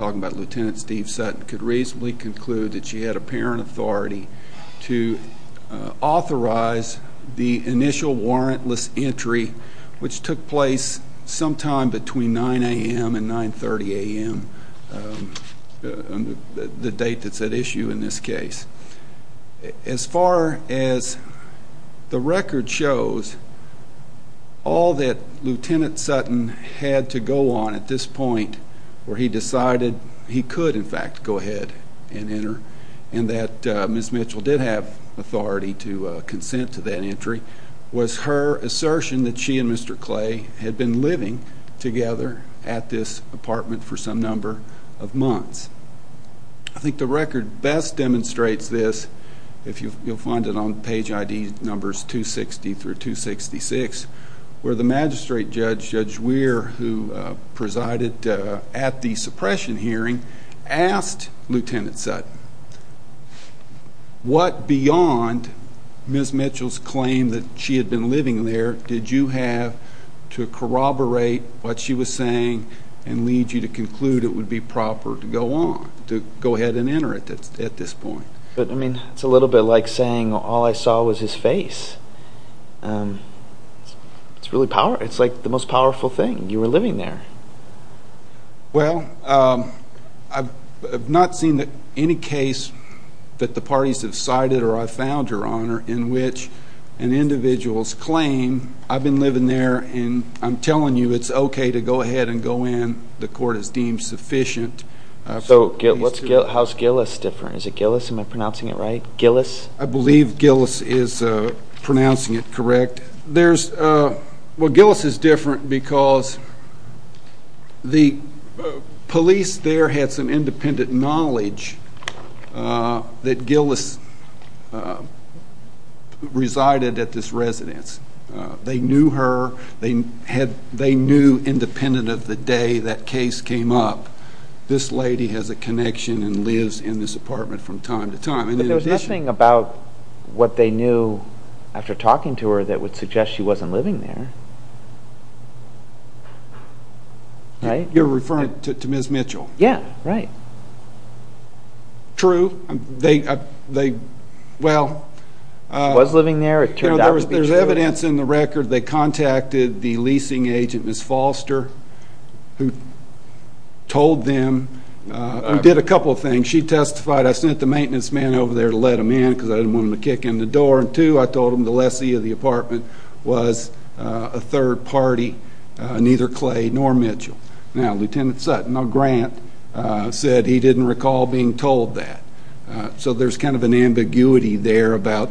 Lt. Steve Sutton could reasonably conclude that she had apparent authority to authorize the initial warrantless entry, which took place sometime between 9 a.m. and 9.30 a.m., the date that's at issue in this case. As far as the record shows, all that Lt. Sutton had to go on at this point where he decided he could, in fact, go ahead and enter and that Ms. Mitchell did have authority to consent to that entry, was her assertion that she and Mr. Clay had been living together at this apartment for some number of months. I think the record best demonstrates this, if you'll find it on page ID numbers 260 through 266, where the magistrate judge, Judge Weir, who presided at the suppression hearing, asked Lt. Sutton, what beyond Ms. Mitchell's claim that she had been living there did you have to corroborate what she was saying and lead you to conclude it would be proper to go on, to go ahead and enter at this point? It's a little bit like saying all I saw was his face. It's like the most powerful thing, you were living there. Well, I've not seen any case that the parties have cited or I've found, Your Honor, in which an individual's claim, I've been living there and I'm telling you it's okay to go ahead and go in. The court has deemed sufficient. So how's Gillis different? Is it Gillis? Am I pronouncing it right? Gillis? I believe Gillis is pronouncing it correct. Well, Gillis is different because the police there had some independent knowledge that Gillis resided at this residence. They knew her. They knew, independent of the day that case came up, this lady has a connection and lives in this apartment from time to time. But there's nothing about what they knew after talking to her that would suggest she wasn't living there, right? You're referring to Ms. Mitchell? Yeah, right. True. They, well. She was living there. It turned out to be true. because I didn't want them to kick in the door. And two, I told them the lessee of the apartment was a third party, neither Clay nor Mitchell. Now, Lieutenant Sutton, a grant, said he didn't recall being told that. So there's kind of an ambiguity there about,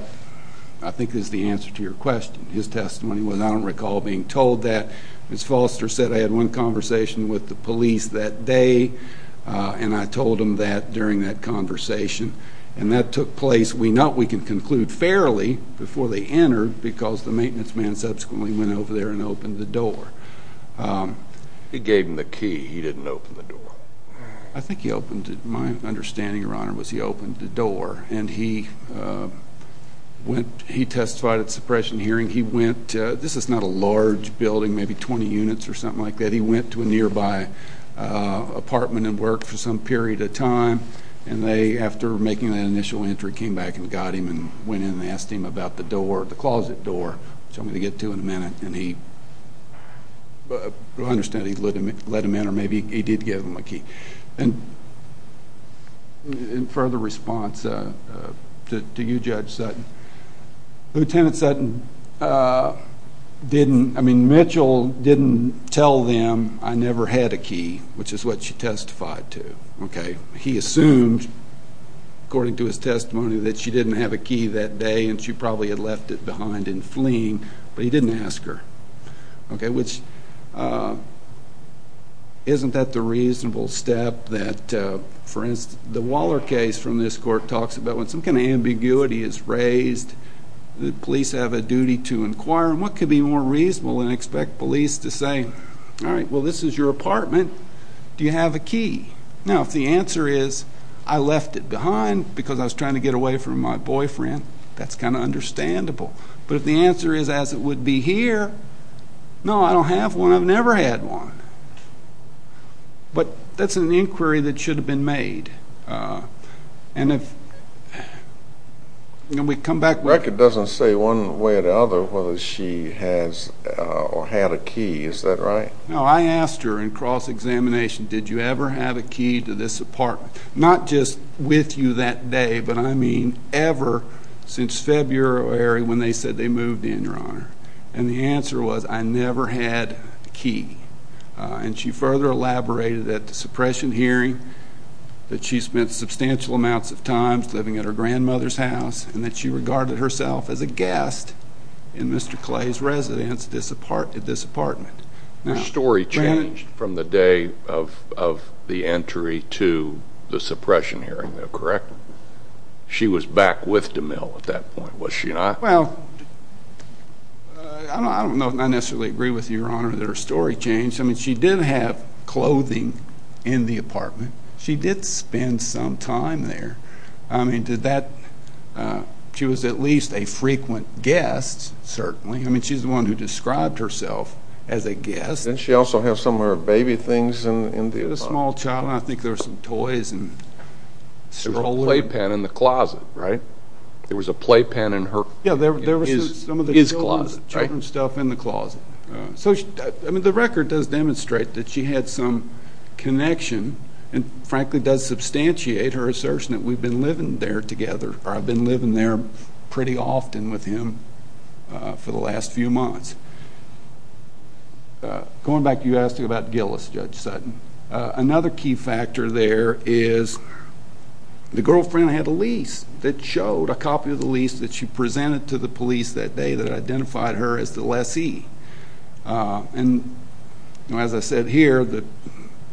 I think is the answer to your question, his testimony was, I don't recall being told that. Ms. Foster said I had one conversation with the police that day, and I told them that during that conversation. And that took place, we know we can conclude fairly, before they entered, because the maintenance man subsequently went over there and opened the door. He gave him the key. He didn't open the door. I think he opened, my understanding, Your Honor, was he opened the door. And he testified at suppression hearing. He went, this is not a large building, maybe 20 units or something like that. He went to a nearby apartment and worked for some period of time. And they, after making that initial entry, came back and got him and went in and asked him about the door, the closet door, which I'm going to get to in a minute. And he, from what I understand, he let him in, or maybe he did give him the key. And in further response to you, Judge Sutton, Lieutenant Sutton didn't, I mean, Mitchell didn't tell them I never had a key, which is what she testified to. He assumed, according to his testimony, that she didn't have a key that day and she probably had left it behind and fleeing, but he didn't ask her. Okay, which isn't that the reasonable step that, for instance, the Waller case from this court talks about when some kind of ambiguity is raised, the police have a duty to inquire, and what could be more reasonable than expect police to say, all right, well, this is your apartment, do you have a key? Now, if the answer is, I left it behind because I was trying to get away from my boyfriend, that's kind of understandable. But if the answer is, as it would be here, no, I don't have one. I've never had one. But that's an inquiry that should have been made. And if we come back with it. The record doesn't say one way or the other whether she has or had a key. Is that right? No, I asked her in cross-examination, did you ever have a key to this apartment? Not just with you that day, but I mean ever since February when they said they moved in, Your Honor. And the answer was, I never had a key. And she further elaborated at the suppression hearing that she spent substantial amounts of time living at her grandmother's house and that she regarded herself as a guest in Mr. Clay's residence at this apartment. Her story changed from the day of the entry to the suppression hearing, though, correct? She was back with DeMille at that point, was she not? Well, I don't necessarily agree with you, Your Honor, that her story changed. I mean, she did have clothing in the apartment. She did spend some time there. I mean, she was at least a frequent guest, certainly. I mean, she's the one who described herself as a guest. Didn't she also have some of her baby things in the apartment? She had a small child, and I think there were some toys and strollers. There was a playpen in the closet, right? There was a playpen in her closet. Yeah, there was some of the children's stuff in the closet. So, I mean, the record does demonstrate that she had some connection and frankly does substantiate her assertion that we've been living there together. I've been living there pretty often with him for the last few months. Going back to you asking about Gillis, Judge Sutton, another key factor there is the girlfriend had a lease that showed, a copy of the lease that she presented to the police that day that identified her as the lessee. And as I said here, the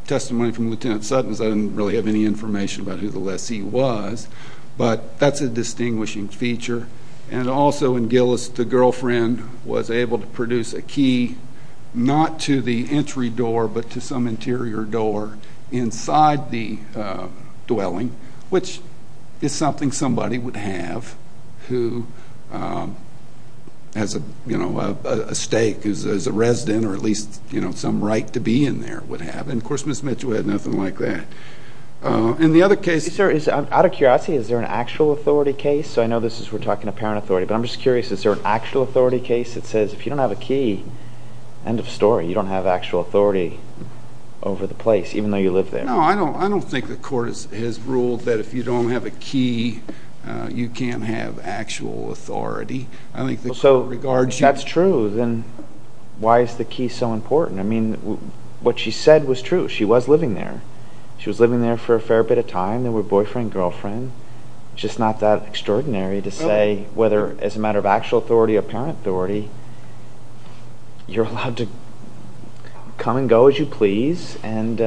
testimony from Lieutenant Sutton is I didn't really have any information about who the lessee was, but that's a distinguishing feature. And also in Gillis, the girlfriend was able to produce a key not to the entry door but to some interior door inside the dwelling, which is something somebody would have who has a stake as a resident or at least some right to be in there would have. And, of course, Ms. Mitchell had nothing like that. Out of curiosity, is there an actual authority case? I know we're talking about parent authority, but I'm just curious, is there an actual authority case that says if you don't have a key, end of story, you don't have actual authority over the place even though you live there? No, I don't think the court has ruled that if you don't have a key, you can't have actual authority. If that's true, then why is the key so important? I mean, what she said was true. She was living there. She was living there for a fair bit of time. They were boyfriend and girlfriend. It's just not that extraordinary to say whether as a matter of actual authority or parent authority, you're allowed to come and go as you please and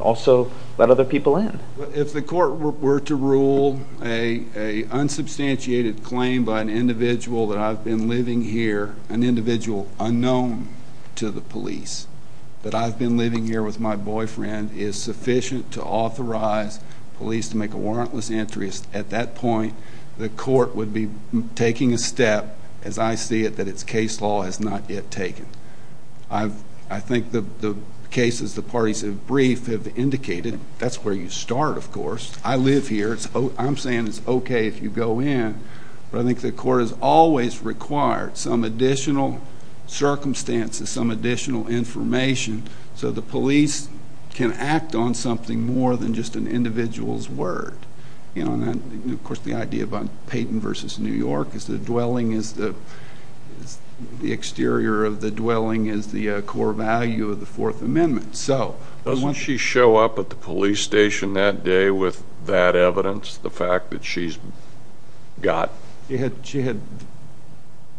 also let other people in. If the court were to rule an unsubstantiated claim by an individual that I've been living here, an individual unknown to the police that I've been living here with my boyfriend is sufficient to authorize police to make a warrantless entry, at that point the court would be taking a step, as I see it, that its case law has not yet taken. I think the cases the parties have briefed have indicated that's where you start, of course. I live here. I'm saying it's okay if you go in. But I think the court has always required some additional circumstances, some additional information, so the police can act on something more than just an individual's word. Of course, the idea of Peyton v. New York is the dwelling is the exterior of the dwelling is the core value of the Fourth Amendment. Doesn't she show up at the police station that day with that evidence, the fact that she's got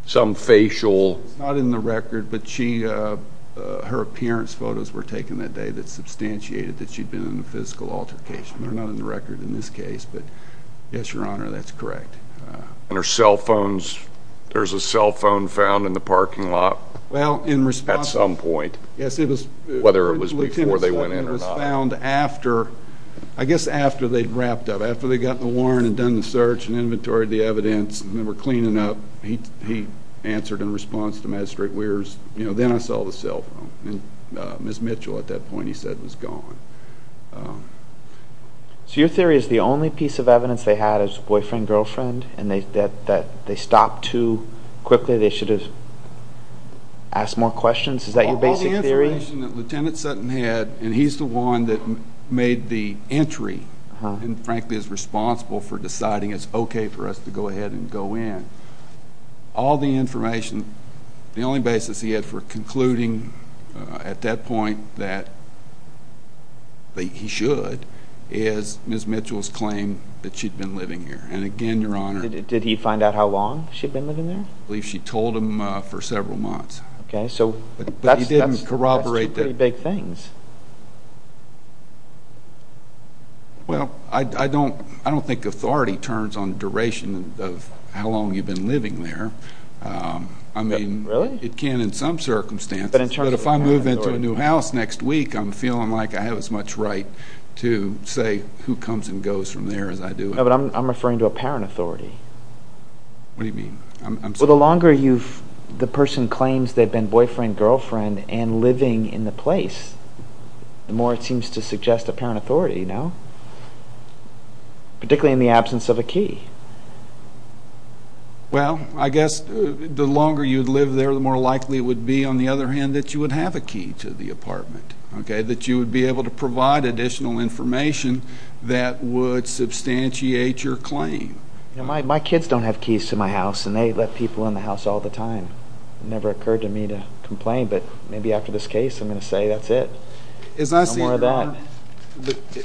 some facial? It's not in the record, but her appearance photos were taken that day that substantiated that she'd been in a physical altercation. They're not in the record in this case, but yes, Your Honor, that's correct. And her cell phone, there's a cell phone found in the parking lot at some point, whether it was before they went in or not. I guess after they'd wrapped up, after they'd gotten the warrant and done the search and inventoried the evidence and they were cleaning up, he answered in response to Mad Straight Wears, you know, then I saw the cell phone. And Ms. Mitchell at that point, he said, was gone. So your theory is the only piece of evidence they had is boyfriend-girlfriend and that they stopped too quickly, they should have asked more questions? Is that your basic theory? The information that Lieutenant Sutton had, and he's the one that made the entry and frankly is responsible for deciding it's okay for us to go ahead and go in, all the information, the only basis he had for concluding at that point that he should is Ms. Mitchell's claim that she'd been living here. And again, Your Honor. Did he find out how long she'd been living there? I believe she told him for several months. Okay. But he didn't corroborate that. That's two pretty big things. Well, I don't think authority turns on duration of how long you've been living there. Really? It can in some circumstances, but if I move into a new house next week, I'm feeling like I have as much right to say who comes and goes from there as I do. No, but I'm referring to a parent authority. What do you mean? Well, the longer the person claims they've been boyfriend, girlfriend, and living in the place, the more it seems to suggest a parent authority, no? Particularly in the absence of a key. Well, I guess the longer you'd live there, the more likely it would be, on the other hand, that you would have a key to the apartment, okay, that you would be able to provide additional information that would substantiate your claim. My kids don't have keys to my house, and they let people in the house all the time. It never occurred to me to complain, but maybe after this case I'm going to say that's it. As I see it,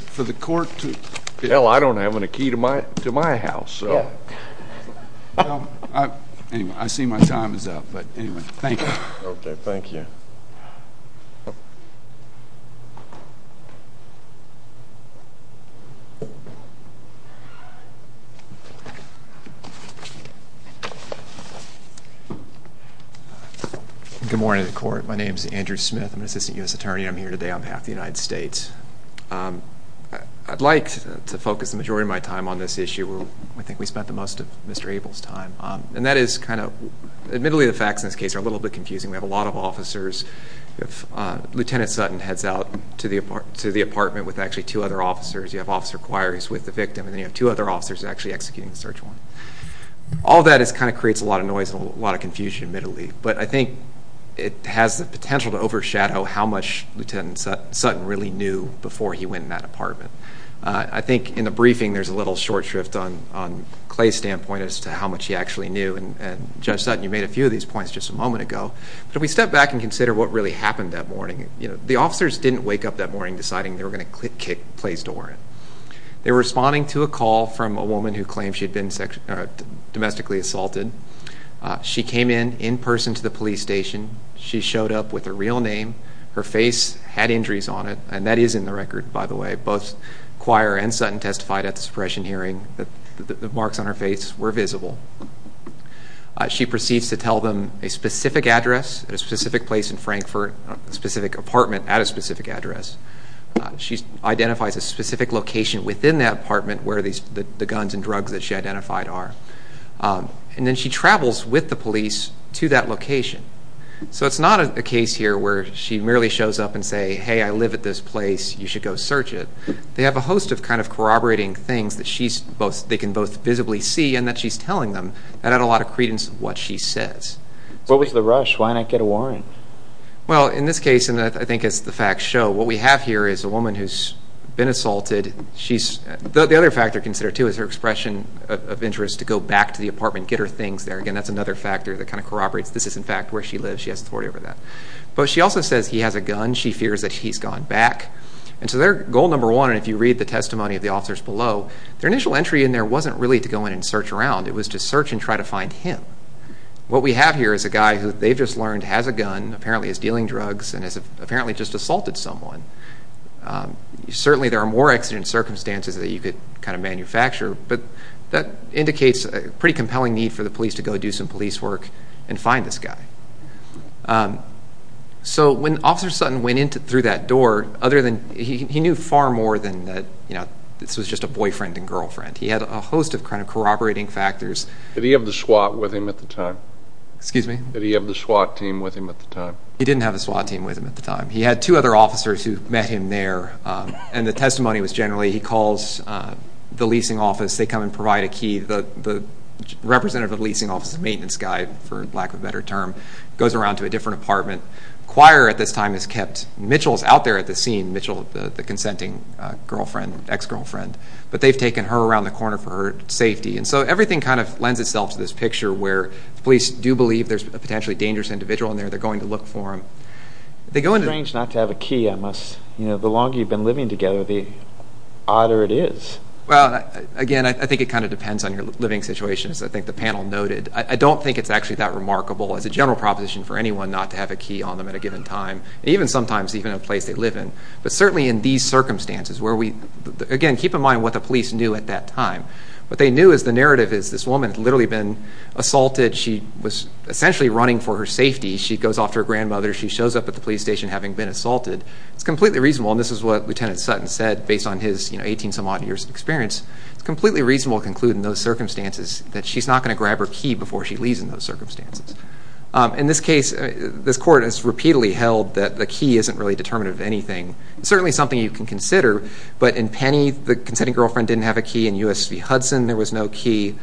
for the court to... Hell, I don't have any key to my house. Anyway, I see my time is up, but anyway, thank you. Okay, thank you. Thank you. Good morning to the court. My name is Andrew Smith. I'm an assistant U.S. attorney. I'm here today on behalf of the United States. I'd like to focus the majority of my time on this issue. I think we spent the most of Mr. Abel's time, and that is kind of, admittedly, the facts in this case are a little bit confusing. We have a lot of officers. Lieutenant Sutton heads out to the apartment with actually two other officers. You have officer Quires with the victim, and then you have two other officers actually executing the search warrant. All that kind of creates a lot of noise and a lot of confusion, admittedly. But I think it has the potential to overshadow how much Lieutenant Sutton really knew before he went in that apartment. I think in the briefing there's a little short shrift on Clay's standpoint as to how much he actually knew. And Judge Sutton, you made a few of these points just a moment ago. But if we step back and consider what really happened that morning, the officers didn't wake up that morning deciding they were going to click Clay's door in. They were responding to a call from a woman who claimed she had been domestically assaulted. She came in, in person, to the police station. She showed up with her real name. Her face had injuries on it, and that is in the record, by the way. Both Quire and Sutton testified at the suppression hearing that the marks on her face were visible. She proceeds to tell them a specific address at a specific place in Frankfurt, a specific apartment at a specific address. She identifies a specific location within that apartment where the guns and drugs that she identified are. And then she travels with the police to that location. So it's not a case here where she merely shows up and says, hey, I live at this place, you should go search it. They have a host of kind of corroborating things that they can both visibly see and that she's telling them that add a lot of credence to what she says. What was the rush? Why not get a warrant? Well, in this case, and I think as the facts show, what we have here is a woman who's been assaulted. The other factor considered, too, is her expression of interest to go back to the apartment, get her things there. Again, that's another factor that kind of corroborates this is, in fact, where she lives. She has authority over that. But she also says he has a gun. She fears that he's gone back. And so their goal number one, and if you read the testimony of the officers below, their initial entry in there wasn't really to go in and search around. It was to search and try to find him. What we have here is a guy who they've just learned has a gun, apparently is dealing drugs, and has apparently just assaulted someone. Certainly there are more accident circumstances that you could kind of manufacture, but that indicates a pretty compelling need for the police to go do some police work and find this guy. So when Officer Sutton went in through that door, he knew far more than that this was just a boyfriend and girlfriend. He had a host of kind of corroborating factors. Did he have the SWAT with him at the time? Excuse me? Did he have the SWAT team with him at the time? He didn't have the SWAT team with him at the time. He had two other officers who met him there, and the testimony was generally he calls the leasing office. They come and provide a key. The representative of the leasing office, the maintenance guy, for lack of a better term, goes around to a different apartment. The choir at this time is kept. Mitchell is out there at the scene, Mitchell, the consenting girlfriend, ex-girlfriend, but they've taken her around the corner for her safety. So everything kind of lends itself to this picture where the police do believe there's a potentially dangerous individual in there. They're going to look for him. It's strange not to have a key. The longer you've been living together, the odder it is. Well, again, I think it kind of depends on your living situation, as I think the panel noted. I don't think it's actually that remarkable. It's a general proposition for anyone not to have a key on them at a given time, even sometimes even in a place they live in. But certainly in these circumstances where we, again, keep in mind what the police knew at that time. What they knew is the narrative is this woman had literally been assaulted. She was essentially running for her safety. She goes off to her grandmother. She shows up at the police station having been assaulted. It's completely reasonable, and this is what Lieutenant Sutton said based on his 18-some-odd years of experience. It's completely reasonable to conclude in those circumstances that she's not going to grab her key before she leaves in those circumstances. In this case, this court has repeatedly held that the key isn't really determinative of anything. It's certainly something you can consider, but in Penny, the consenting girlfriend didn't have a key. In U.S. v. Hudson, there was no key.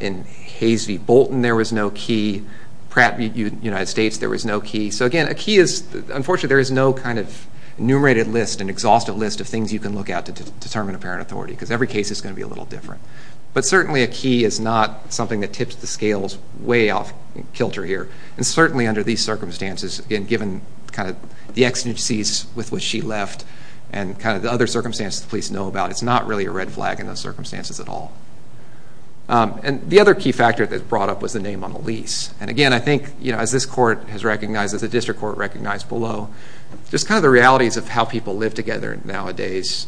In Hayes v. Bolton, there was no key. Pratt v. United States, there was no key. So, again, a key is unfortunately there is no kind of enumerated list, an exhaustive list of things you can look at to determine a parent authority because every case is going to be a little different. But certainly a key is not something that tips the scales way off kilter here. And certainly under these circumstances, again, given kind of the exigencies with which she left and kind of the other circumstances the police know about, it's not really a red flag in those circumstances at all. And the other key factor that's brought up was the name on a lease. And, again, I think, you know, as this court has recognized, as the district court recognized below, just kind of the realities of how people live together nowadays,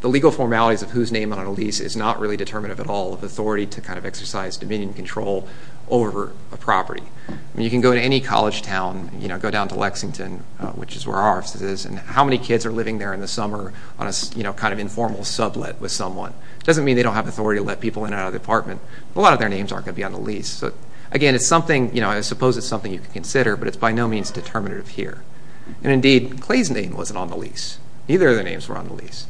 the legal formalities of whose name on a lease is not really determinative at all of authority to kind of exercise dominion and control over a property. I mean, you can go to any college town, you know, go down to Lexington, which is where our office is, and how many kids are living there in the summer on a kind of informal sublet with someone. It doesn't mean they don't have authority to let people in and out of the apartment. A lot of their names aren't going to be on the lease. So, again, it's something, you know, I suppose it's something you can consider, but it's by no means determinative here. And, indeed, Clay's name wasn't on the lease. Neither of their names were on the lease.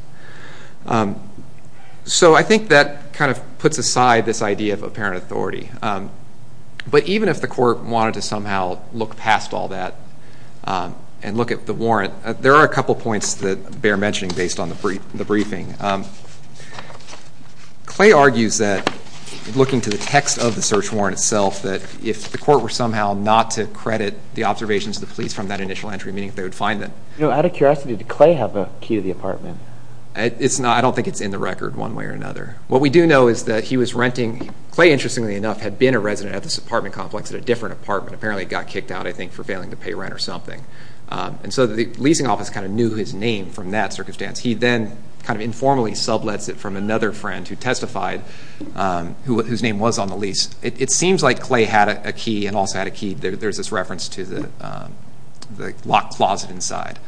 So I think that kind of puts aside this idea of apparent authority. But even if the court wanted to somehow look past all that and look at the warrant, there are a couple points that bear mentioning based on the briefing. Clay argues that, looking to the text of the search warrant itself, that if the court were somehow not to credit the observations of the police from that initial entry meeting, they would find that. Out of curiosity, did Clay have a key to the apartment? I don't think it's in the record one way or another. What we do know is that he was renting. Clay, interestingly enough, had been a resident at this apartment complex, at a different apartment. Apparently he got kicked out, I think, for failing to pay rent or something. And so the leasing office kind of knew his name from that circumstance. He then kind of informally sublets it from another friend who testified, whose name was on the lease. It seems like Clay had a key and also had a key. There's this reference to the locked closet inside.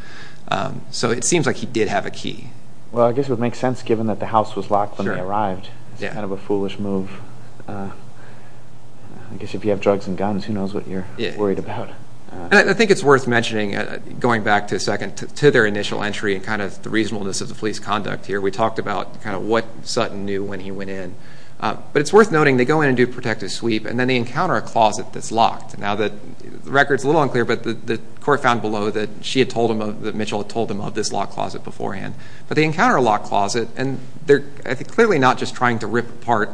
So it seems like he did have a key. Well, I guess it would make sense, given that the house was locked when they arrived. It's kind of a foolish move. I guess if you have drugs and guns, who knows what you're worried about. I think it's worth mentioning, going back to their initial entry and kind of the reasonableness of the police conduct here, we talked about kind of what Sutton knew when he went in. But it's worth noting, they go in and do a protective sweep, and then they encounter a closet that's locked. Now, the record's a little unclear, but the court found below that Mitchell had told them of this locked closet beforehand. But they encounter a locked closet, and they're clearly not just trying to rip apart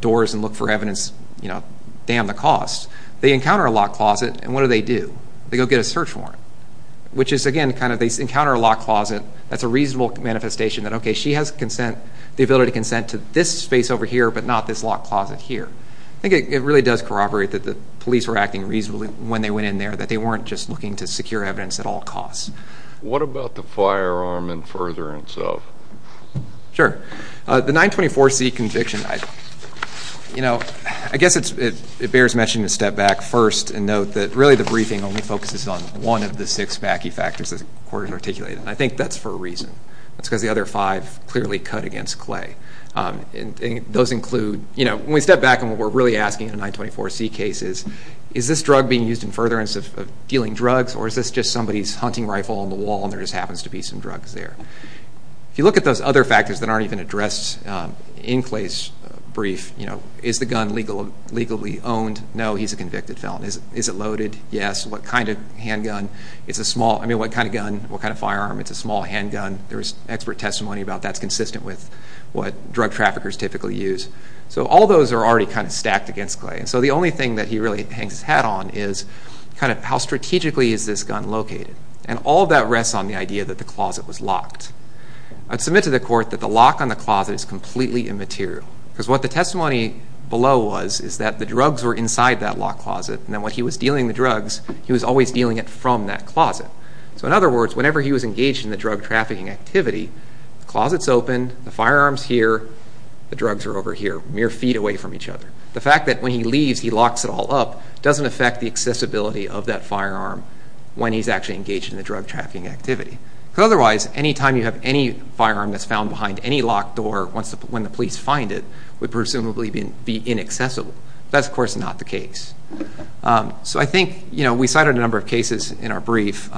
doors and look for evidence, you know, damn the cost. They encounter a locked closet, and what do they do? They go get a search warrant, which is, again, kind of they encounter a locked closet. That's a reasonable manifestation that, okay, she has the ability to consent to this space over here, but not this locked closet here. I think it really does corroborate that the police were acting reasonably when they went in there, that they weren't just looking to secure evidence at all costs. What about the firearm and furtherance of? Sure. The 924C conviction, you know, I guess it bears mentioning to step back first and note that really the briefing only focuses on one of the six Mackey factors that the court has articulated, and I think that's for a reason. That's because the other five clearly cut against Clay, and those include, you know, when we step back on what we're really asking in the 924C cases, is this drug being used in furtherance of dealing drugs, or is this just somebody's hunting rifle on the wall and there just happens to be some drugs there? If you look at those other factors that aren't even addressed in Clay's brief, you know, is the gun legally owned? No, he's a convicted felon. Is it loaded? Yes. What kind of handgun? It's a small, I mean, what kind of gun, what kind of firearm? It's a small handgun. There was expert testimony about that's consistent with what drug traffickers typically use. So all those are already kind of stacked against Clay, and so the only thing that he really hangs his hat on is kind of how strategically is this gun located, and all of that rests on the idea that the closet was locked. I'd submit to the court that the lock on the closet is completely immaterial because what the testimony below was is that the drugs were inside that locked closet, and then when he was dealing the drugs, he was always dealing it from that closet. So in other words, whenever he was engaged in the drug trafficking activity, the closet's open, the firearm's here, the drugs are over here, mere feet away from each other. The fact that when he leaves, he locks it all up doesn't affect the accessibility of that firearm when he's actually engaged in the drug trafficking activity. Because otherwise, any time you have any firearm that's found behind any locked door, when the police find it, it would presumably be inaccessible. That's, of course, not the case. So I think, you know, we cited a number of cases in our brief,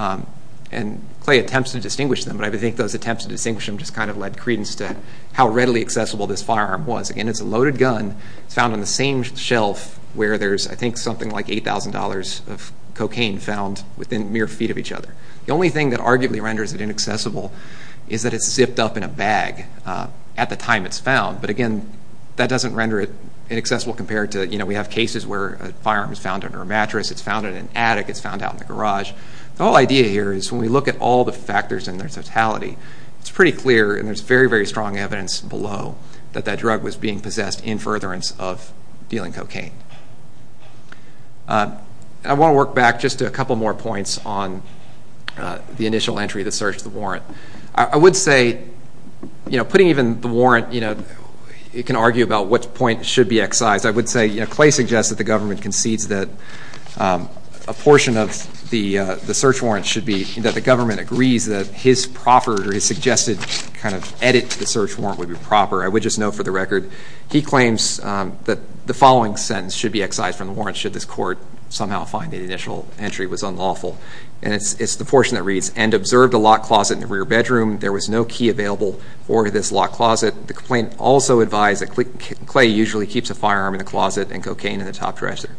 and Clay attempts to distinguish them, but I think those attempts to distinguish them just kind of led credence to how readily accessible this firearm was. Again, it's a loaded gun, it's found on the same shelf where there's, I think, something like $8,000 of cocaine found within mere feet of each other. The only thing that arguably renders it inaccessible is that it's zipped up in a bag at the time it's found, but again, that doesn't render it inaccessible compared to, you know, we have cases where a firearm is found under a mattress, it's found in an attic, it's found out in the garage. The whole idea here is when we look at all the factors in their totality, it's pretty clear, and there's very, very strong evidence below, that that drug was being possessed in furtherance of dealing cocaine. I want to work back just a couple more points on the initial entry that searched the warrant. I would say, you know, putting even the warrant, you know, you can argue about which point should be excised. I would say Clay suggests that the government concedes that a portion of the search warrant should be that the government agrees that his proper or his suggested kind of edit to the search warrant would be proper. I would just note for the record he claims that the following sentence should be excised from the warrant should this court somehow find the initial entry was unlawful, and it's the portion that reads, and observed a locked closet in the rear bedroom. There was no key available for this locked closet. The complainant also advised that Clay usually keeps a firearm in the closet and cocaine in the top dresser.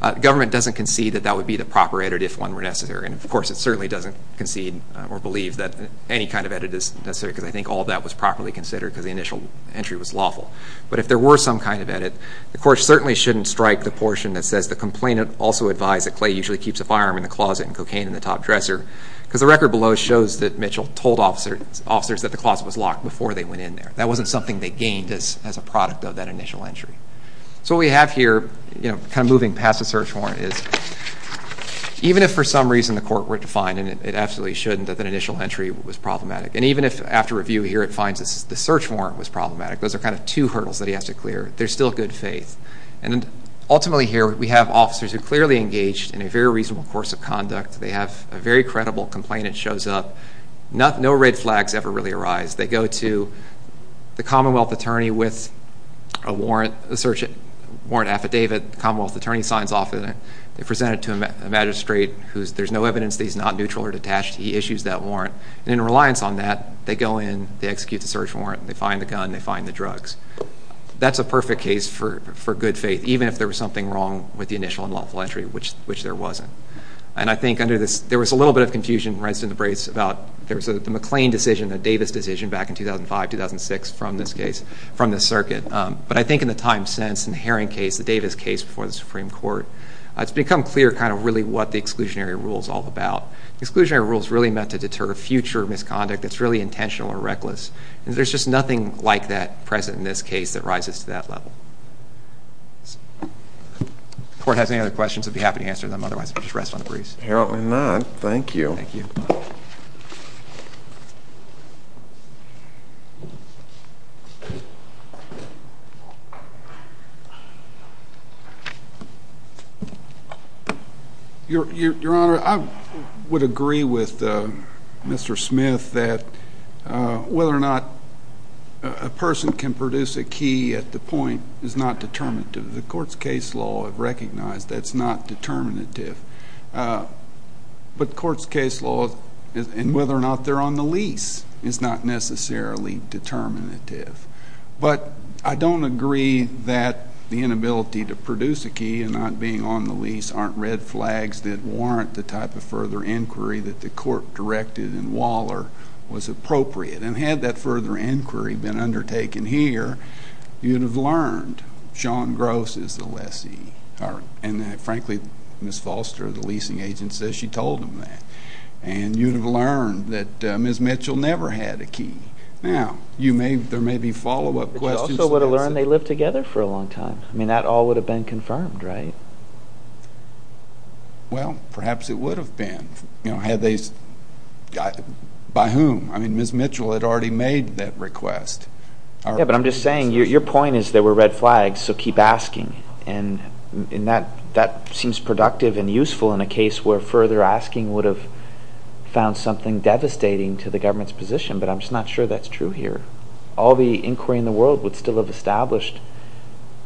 The government doesn't concede that that would be the proper edit if one were necessary, and of course it certainly doesn't concede or believe that any kind of edit is necessary because I think all of that was properly considered because the initial entry was lawful. But if there were some kind of edit, the court certainly shouldn't strike the portion that says the complainant also advised that Clay usually keeps a firearm in the closet and cocaine in the top dresser because the record below shows that Mitchell told officers that the closet was locked before they went in there. That wasn't something they gained as a product of that initial entry. So what we have here, kind of moving past the search warrant, is even if for some reason the court were to find, and it absolutely shouldn't, that the initial entry was problematic, and even if after review here it finds that the search warrant was problematic, those are kind of two hurdles that he has to clear. There's still good faith. And ultimately here we have officers who clearly engaged in a very reasonable course of conduct. They have a very credible complainant shows up. No red flags ever really arise. They go to the Commonwealth attorney with a warrant affidavit. The Commonwealth attorney signs off on it. They present it to a magistrate who there's no evidence that he's not neutral or detached. He issues that warrant. And in reliance on that, they go in, they execute the search warrant, they find the gun, they find the drugs. That's a perfect case for good faith, even if there was something wrong with the initial and lawful entry, which there wasn't. And I think under this, there was a little bit of confusion in Residence of the Braves about the McLean decision, the Davis decision back in 2005, 2006 from this case, from the circuit. But I think in the time since, in the Herring case, the Davis case before the Supreme Court, it's become clear kind of really what the exclusionary rule is all about. The exclusionary rule is really meant to deter future misconduct that's really intentional or reckless, and there's just nothing like that present in this case that rises to that level. If the court has any other questions, I'd be happy to answer them. Otherwise, we'll just rest on the breeze. Apparently not. Thank you. Thank you. Your Honor, I would agree with Mr. Smith that whether or not a person can produce a key at the point is not determinative. The court's case law would recognize that's not determinative. But the court's case law, and whether or not they're on the lease, is not necessarily determinative. But I don't agree that the inability to produce a key and not being on the lease aren't red flags that warrant the type of further inquiry that the court directed in Waller was appropriate. And had that further inquiry been undertaken here, you'd have learned Sean Gross is the lessee. And, frankly, Ms. Foster, the leasing agent, says she told him that. And you'd have learned that Ms. Mitchell never had a key. Now, there may be follow-up questions. But you also would have learned they lived together for a long time. I mean, that all would have been confirmed, right? Well, perhaps it would have been. By whom? I mean, Ms. Mitchell had already made that request. Yeah, but I'm just saying your point is there were red flags, so keep asking. And that seems productive and useful in a case where further asking would have found something devastating to the government's position. But I'm just not sure that's true here. All the inquiry in the world would still have established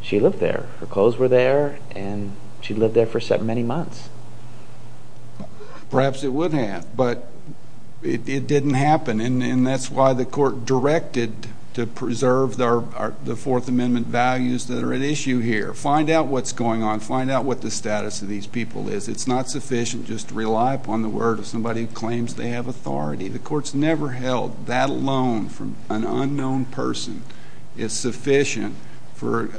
she lived there. Her clothes were there, and she lived there for many months. Perhaps it would have, but it didn't happen. And that's why the court directed to preserve the Fourth Amendment values that are at issue here. Find out what's going on. Find out what the status of these people is. It's not sufficient just to rely upon the word of somebody who claims they have authority. The court's never held that alone from an unknown person is sufficient for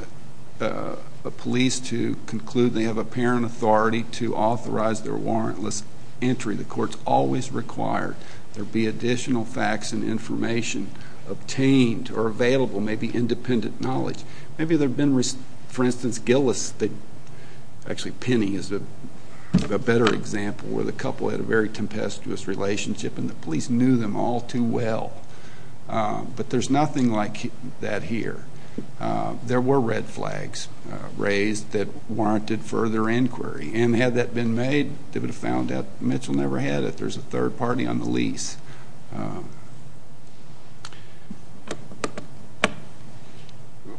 a police to conclude they have apparent authority to authorize their warrantless entry. The court's always required there be additional facts and information obtained or available, maybe independent knowledge. Maybe there have been, for instance, Gillis, actually Penny is a better example, where the couple had a very tempestuous relationship and the police knew them all too well. But there's nothing like that here. There were red flags raised that warranted further inquiry. And had that been made, they would have found out Mitchell never had it. There's a third party on the lease.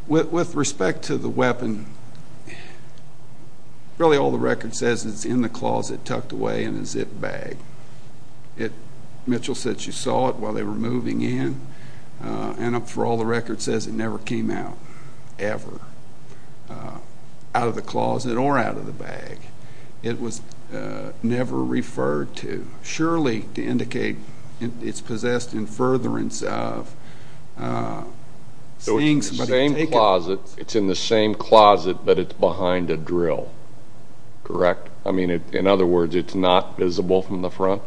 With respect to the weapon, really all the record says it's in the closet tucked away in a zip bag. Mitchell said she saw it while they were moving in. And for all the record says it never came out, ever, out of the closet or out of the bag. It was never referred to. Surely to indicate it's possessed in furtherance of seeing somebody take it. So it's in the same closet, but it's behind a drill, correct? I mean, in other words, it's not visible from the front?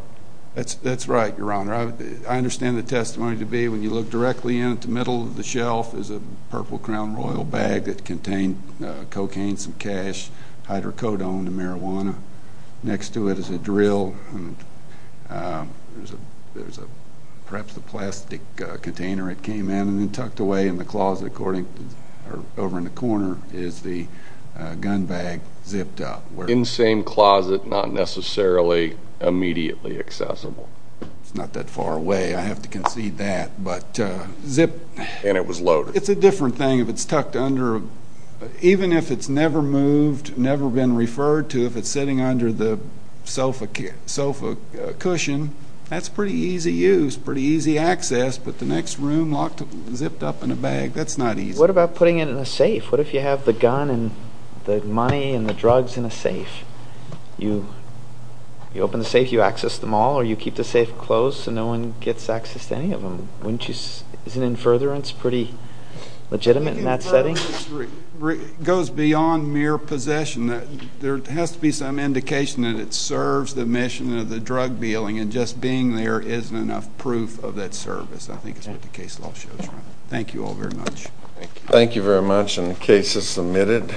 That's right, Your Honor. Your Honor, I understand the testimony to be when you look directly in, at the middle of the shelf is a Purple Crown Royal bag that contained cocaine, some cash, hydrocodone to marijuana. Next to it is a drill. There's perhaps a plastic container it came in and tucked away in the closet. Over in the corner is the gun bag zipped up. In the same closet, not necessarily immediately accessible? It's not that far away, I have to concede that, but zipped. And it was loaded? It's a different thing if it's tucked under. Even if it's never moved, never been referred to, if it's sitting under the sofa cushion, that's pretty easy use, pretty easy access, but the next room, zipped up in a bag, that's not easy. What about putting it in a safe? What if you have the gun and the money and the drugs in a safe? You open the safe, you access them all, or you keep the safe closed so no one gets access to any of them? Isn't in furtherance pretty legitimate in that setting? It goes beyond mere possession. There has to be some indication that it serves the mission of the drug dealing, and just being there isn't enough proof of that service. I think that's what the case law shows, Your Honor. Thank you all very much. Thank you. Thank you very much, and the case is submitted.